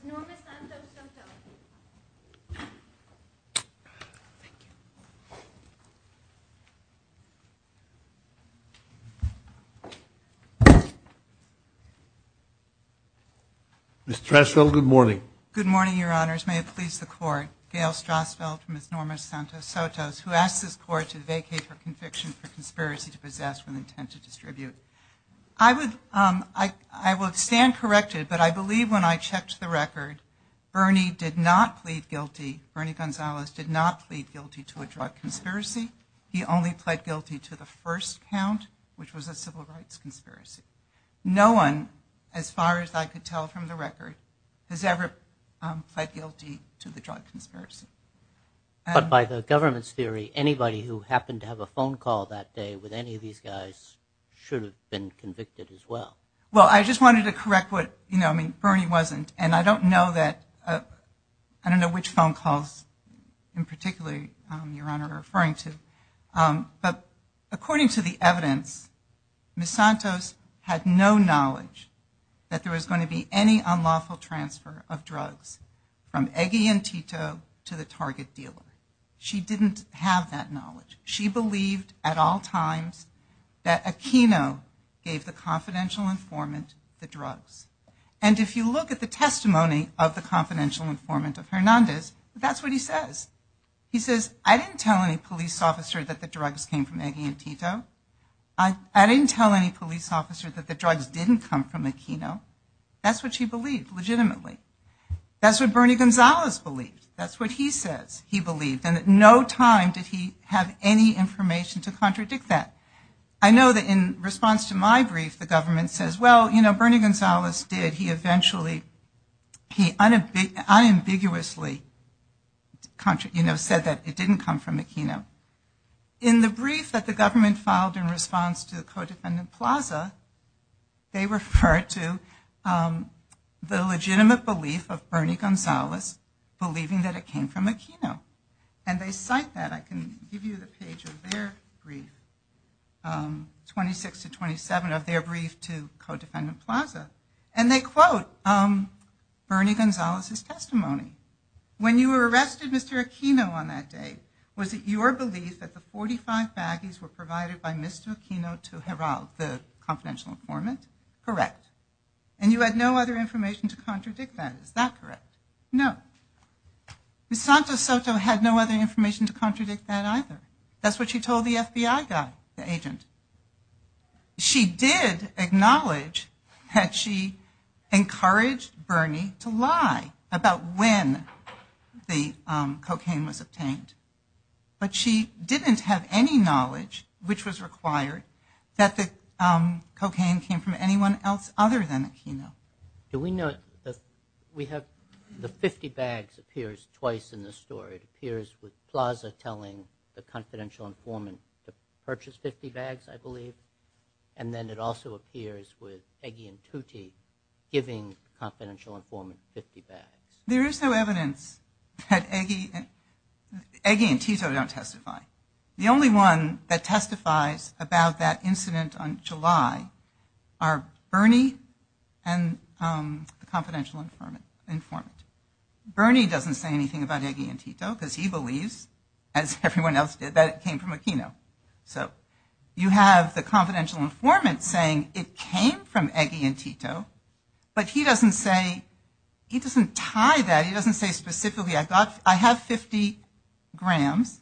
Gail Strasveld v. Ms. Norma Santos-Sotos Ms. Strasveld, good morning. Good morning, Your Honors. May it please the Court, Gail Strasveld v. Ms. Norma Santos-Sotos, who asks this Court to vacate her conviction for conspiracy to possess with intent to distribute. I would stand corrected, but I believe when I checked the record, Bernie did not plead guilty. Bernie Gonzalez did not plead guilty to a drug conspiracy. He only pled guilty to the first count, which was a civil rights conspiracy. No one, as far as I could tell from the record, has ever pled guilty to the drug conspiracy. But by the government's theory, anybody who happened to have a phone call that day with any of these guys should have been convicted as well. Well, I just wanted to correct what, you know, I mean, Bernie wasn't, and I don't know that, I don't know which phone calls in particular, Your Honor, are referring to, but according to the evidence, Ms. Santos had no knowledge that there was going to be any unlawful transfer of drugs from Eggie and Tito to the target dealer. She didn't have that knowledge. She believed at all times that Aquino gave the confidential informant the drugs. And if you look at the testimony of the confidential informant of Hernandez, that's what he says. He says, I didn't tell any police officer that the drugs came from Eggie and Tito. I didn't tell any police officer that the drugs didn't come from Aquino. That's what she believed, legitimately. That's what Bernie Gonzalez believed. That's what he says he believed. And at no time did he have any information to contradict that. I know that in response to my brief, the government says, well, you know, Bernie Gonzalez did. He eventually, he unambiguously, you know, said that it didn't come from Aquino. In the brief that the government filed in response to the codependent Plaza, they referred to the legitimate belief of Bernie Gonzalez believing that it came from Aquino. And they cite that. I can give you the page of their brief, 26 to 27 of their brief to Codependent Plaza. And they quote Bernie Gonzalez's testimony. When you arrested Mr. Aquino on that day, was it your belief that the 45 baggies were provided by Mr. Aquino to Geraldo, the confidential informant? Correct. And you had no other information to contradict that, is that correct? No. Ms. Santos Soto had no other information to contradict that either. That's what she told the FBI guy, the agent. She did acknowledge that she encouraged Bernie to lie about when the cocaine was obtained. But she didn't have any knowledge, which was required, that the cocaine came from anyone else other than Aquino. Do we know, we have the 50 bags appears twice in this story. It appears with Plaza telling the confidential informant to purchase 50 bags, I believe. And then it also appears with Eggy and Tutti giving confidential informant 50 bags. There is no evidence that Eggy and Tito don't testify. The only one that testifies about that incident on July are Bernie and the confidential informant. Bernie doesn't say anything about Eggy and Tito because he believes, as everyone else did, that it came from Aquino. So you have the confidential informant saying it came from Eggy and Tito, but he doesn't say, he doesn't tie that. He doesn't say specifically, I have 50 grams.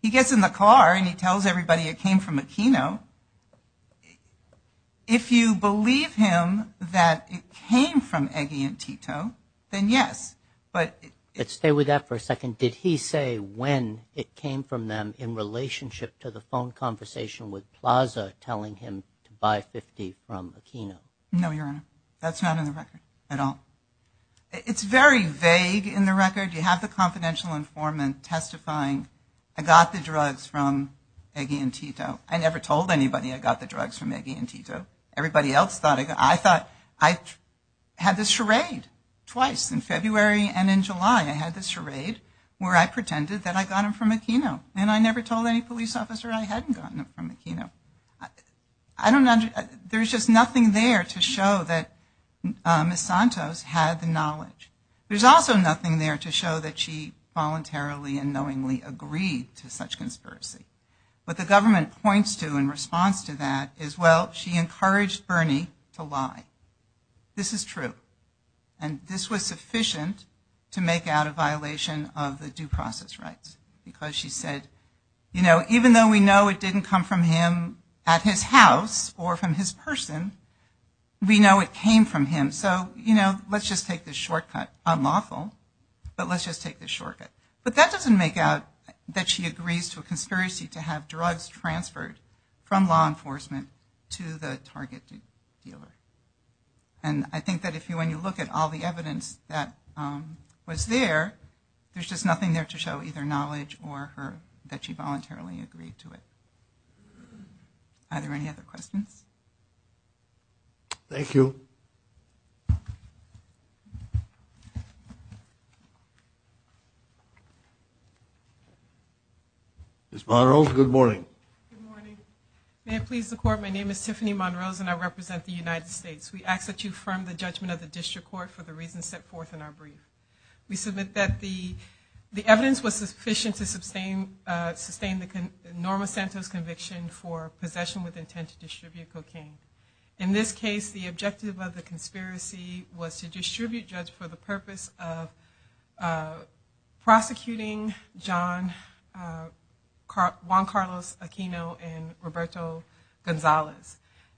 He gets in the car and he tells everybody it came from Aquino. If you believe him that it came from Eggy and Tito, then yes. But stay with that for a second. Did he say when it came from them in relationship to the phone conversation with Plaza telling him to buy 50 from Aquino? No, Your Honor. That's not in the record at all. It's very vague in the record. You have the confidential informant testifying, I got the drugs from Eggy and Tito. I never told anybody I got the drugs from Eggy and Tito. Everybody else thought, I thought, I had this charade twice in February and in July. I had this charade where I pretended that I got them from Aquino. And I never told any police officer I hadn't gotten them from Aquino. I don't know, there's just nothing there to show that Ms. Santos had the knowledge. There's also nothing there to show that she voluntarily and knowingly agreed to such conspiracy. What the government points to in response to that is, well, she encouraged Bernie to lie. This is true. And this was sufficient to make out a violation of the due process rights. Because she said, even though we know it didn't come from him at his house or from his person, we know it came from him. So let's just take this shortcut. Unlawful, but let's just take this shortcut. But that doesn't make out that she agrees to a conspiracy to have drugs transferred from law enforcement to the targeted dealer. And I think that when you look at all the evidence that was there, there's just nothing there to show either knowledge or that she voluntarily agreed to it. Are there any other questions? Thank you. Ms. Monroe, good morning. Good morning. May it please the court, my name is Tiffany Monroe and I represent the United States. We ask that you affirm the judgment of the district court for the reasons set forth in our brief. We submit that the evidence was sufficient to sustain the Norma Santos conviction for possession with intent to distribute cocaine. In this case, the objective of the conspiracy was to distribute judge for the purpose of prosecuting John Juan Carlos Aquino and Roberto Gonzalez.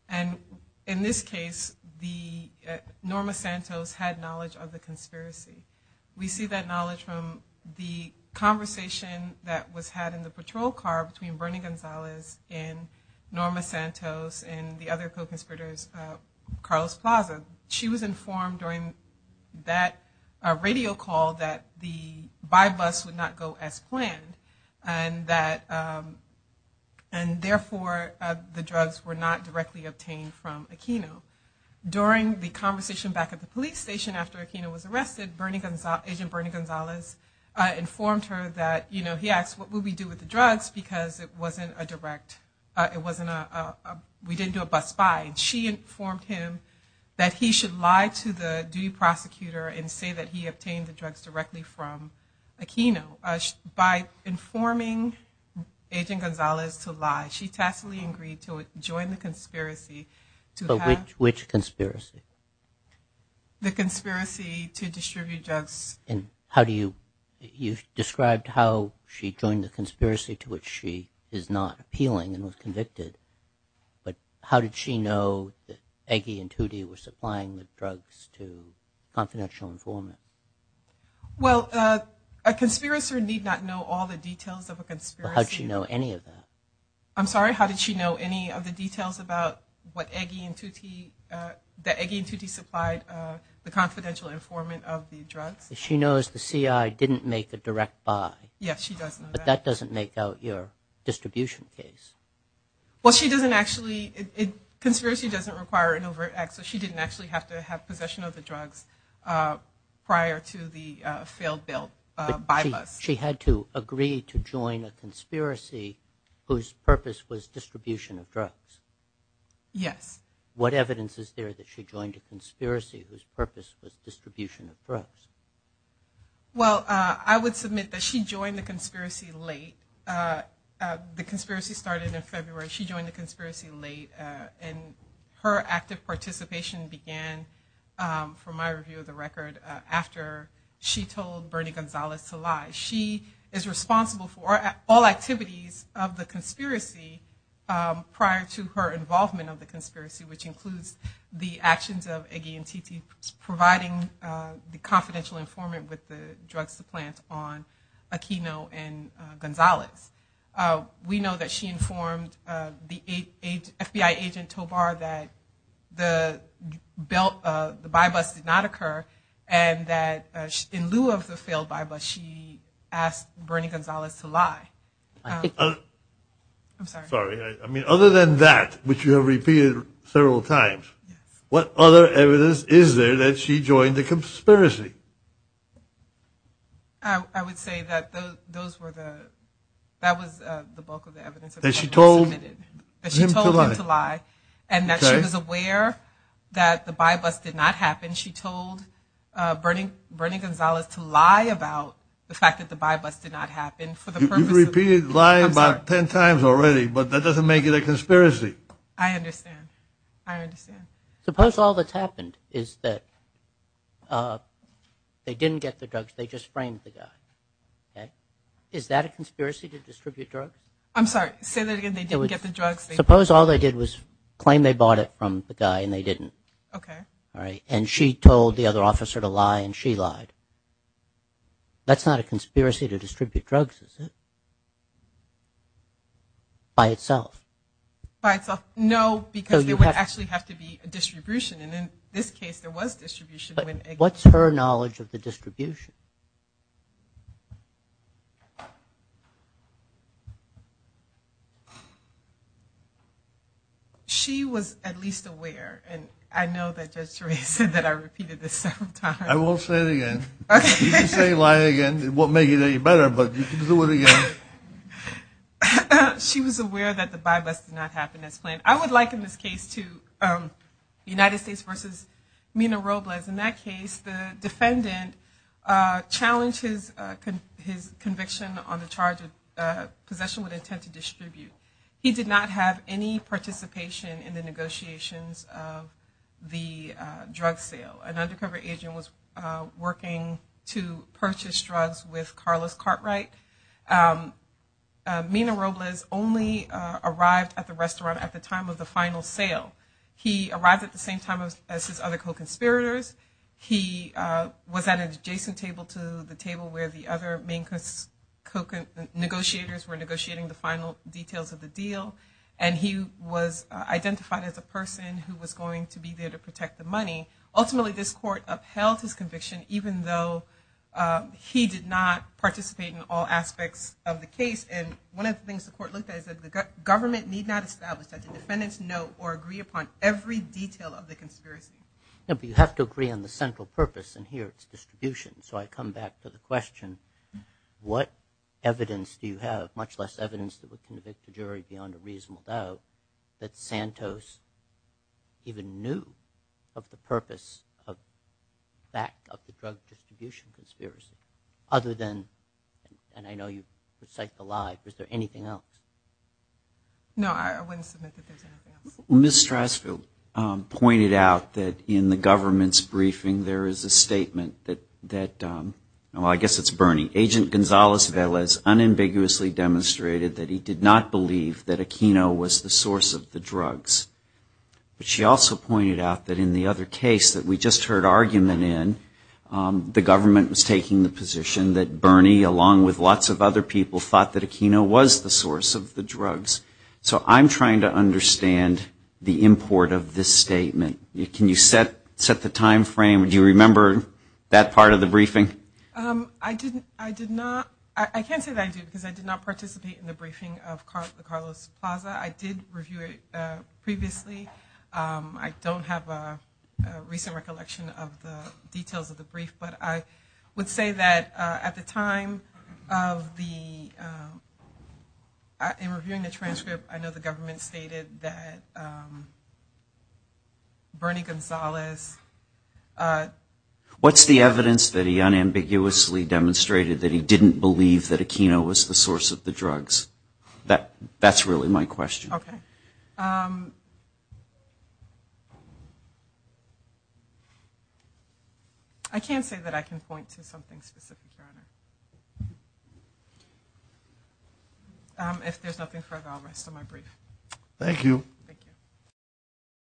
And in this case, the Norma Santos had knowledge of the conspiracy. We see that knowledge from the conversation that was had in the patrol car between Bernie Gonzalez and Norma Santos and the other co-conspirators, Carlos Plaza. She was informed during that radio call that the by-bus would not go as planned. And that, and therefore, the drugs were not directly obtained from Aquino. During the conversation back at the police station after Aquino was arrested, Agent Bernie Gonzalez informed her that, you know, he asked what would we do with the drugs because it wasn't a direct, it wasn't a, we didn't do a bus by. She informed him that he should lie to the duty prosecutor and say that he obtained the drugs directly from Aquino. By informing Agent Gonzalez to lie, she tacitly agreed to join the conspiracy to have. Which conspiracy? The conspiracy to distribute drugs. And how do you, you described how she joined the conspiracy to which she is not appealing and was convicted. But how did she know that Aggie and Tootie were supplying the drugs to confidential informant? Well, a conspirator need not know all the details of a conspiracy. But how did she know any of that? I'm sorry, how did she know any of the details about what Aggie and Tootie, that Aggie and Tootie supplied the confidential informant of the drugs? She knows the CI didn't make a direct buy. Yes, she does know that. But that doesn't make out your distribution case. Well, she doesn't actually, conspiracy doesn't require an overt act, so she didn't actually have to have possession of the drugs prior to the failed bill, by bus. She had to agree to join a conspiracy whose purpose was distribution of drugs. Yes. What evidence is there that she joined a conspiracy whose purpose was distribution of drugs? Well, I would submit that she joined the conspiracy late. The conspiracy started in February. She joined the conspiracy late. And her active participation began, for my review of the record, after she told Bernie Gonzalez to lie. She is responsible for all activities of the conspiracy prior to her involvement of the conspiracy, which includes the actions of Aggie and Tootie providing the confidential informant with the drug supplant on Aquino and Gonzalez. We know that she informed the FBI agent Tobar that the buy bus did not occur, and that in lieu of the failed buy bus, she asked Bernie Gonzalez to lie. I'm sorry. Sorry. I mean, other than that, which you have repeated several times, what other evidence is there that she joined the conspiracy? I would say that those were the, that was the bulk of the evidence that she submitted. That she told him to lie. And that she was aware that the buy bus did not happen. She told Bernie Gonzalez to lie about the fact that the buy bus did not happen for the purpose of the- You've repeated lie about ten times already, but that doesn't make it a conspiracy. I understand. I understand. Suppose all that's happened is that they didn't get the drugs, they just framed the guy, okay? Is that a conspiracy to distribute drugs? I'm sorry, say that again, they didn't get the drugs? Suppose all they did was claim they bought it from the guy and they didn't. Okay. All right, and she told the other officer to lie and she lied. That's not a conspiracy to distribute drugs, is it? By itself. By itself. No, because there would actually have to be a distribution. And in this case, there was distribution when- What's her knowledge of the distribution? She was at least aware, and I know that Judge Therese said that I repeated this several times. I won't say it again. You can say lie again, it won't make it any better, but you can do it again. She was aware that the buy bust did not happen as planned. I would liken this case to United States versus Mina Robles. In that case, the defendant challenged his conviction on the charge of possession with intent to distribute. He did not have any participation in the negotiations of the drug sale. An undercover agent was working to purchase drugs with Carlos Cartwright. Mina Robles only arrived at the restaurant at the time of the final sale. He arrived at the same time as his other co-conspirators. He was at an adjacent table to the table where the other main co-negotiators were negotiating the final details of the deal. And he was identified as a person who was going to be there to protect the money. Ultimately, this court upheld his conviction even though he did not participate in all aspects of the case. And one of the things the court looked at is that the government need not establish that the defendants know or agree upon every detail of the conspiracy. But you have to agree on the central purpose, and here it's distribution. So I come back to the question, what evidence do you have, much less evidence that would convict a jury beyond a reasonable doubt, that Santos even knew of the purpose of the fact of the drug distribution conspiracy? Other than, and I know you cite the lie, is there anything else? No, I wouldn't submit that there's anything else. Ms. Strasfield pointed out that in the government's briefing there is a statement that, well I guess it's Bernie, Agent Gonzalez-Velez unambiguously demonstrated that he did not believe that Aquino was the source of the drugs. But she also pointed out that in the other case that we just heard argument in, the government was taking the position that Bernie, along with lots of other people, thought that Aquino was the source of the drugs. So I'm trying to understand the import of this statement. Can you set the time frame? Do you remember that part of the briefing? I didn't, I did not, I can't say that I do because I did not participate in the briefing of the Carlos Plaza. I did review it previously. I don't have a recent recollection of the details of the brief. But I would say that at the time of the, in reviewing the transcript, I know the government stated that Bernie Gonzalez... unambiguously demonstrated that he didn't believe that Aquino was the source of the drugs. That's really my question. Okay. I can't say that I can point to something specific, Your Honor. If there's nothing further, I'll rest on my brief. Thank you. Thank you.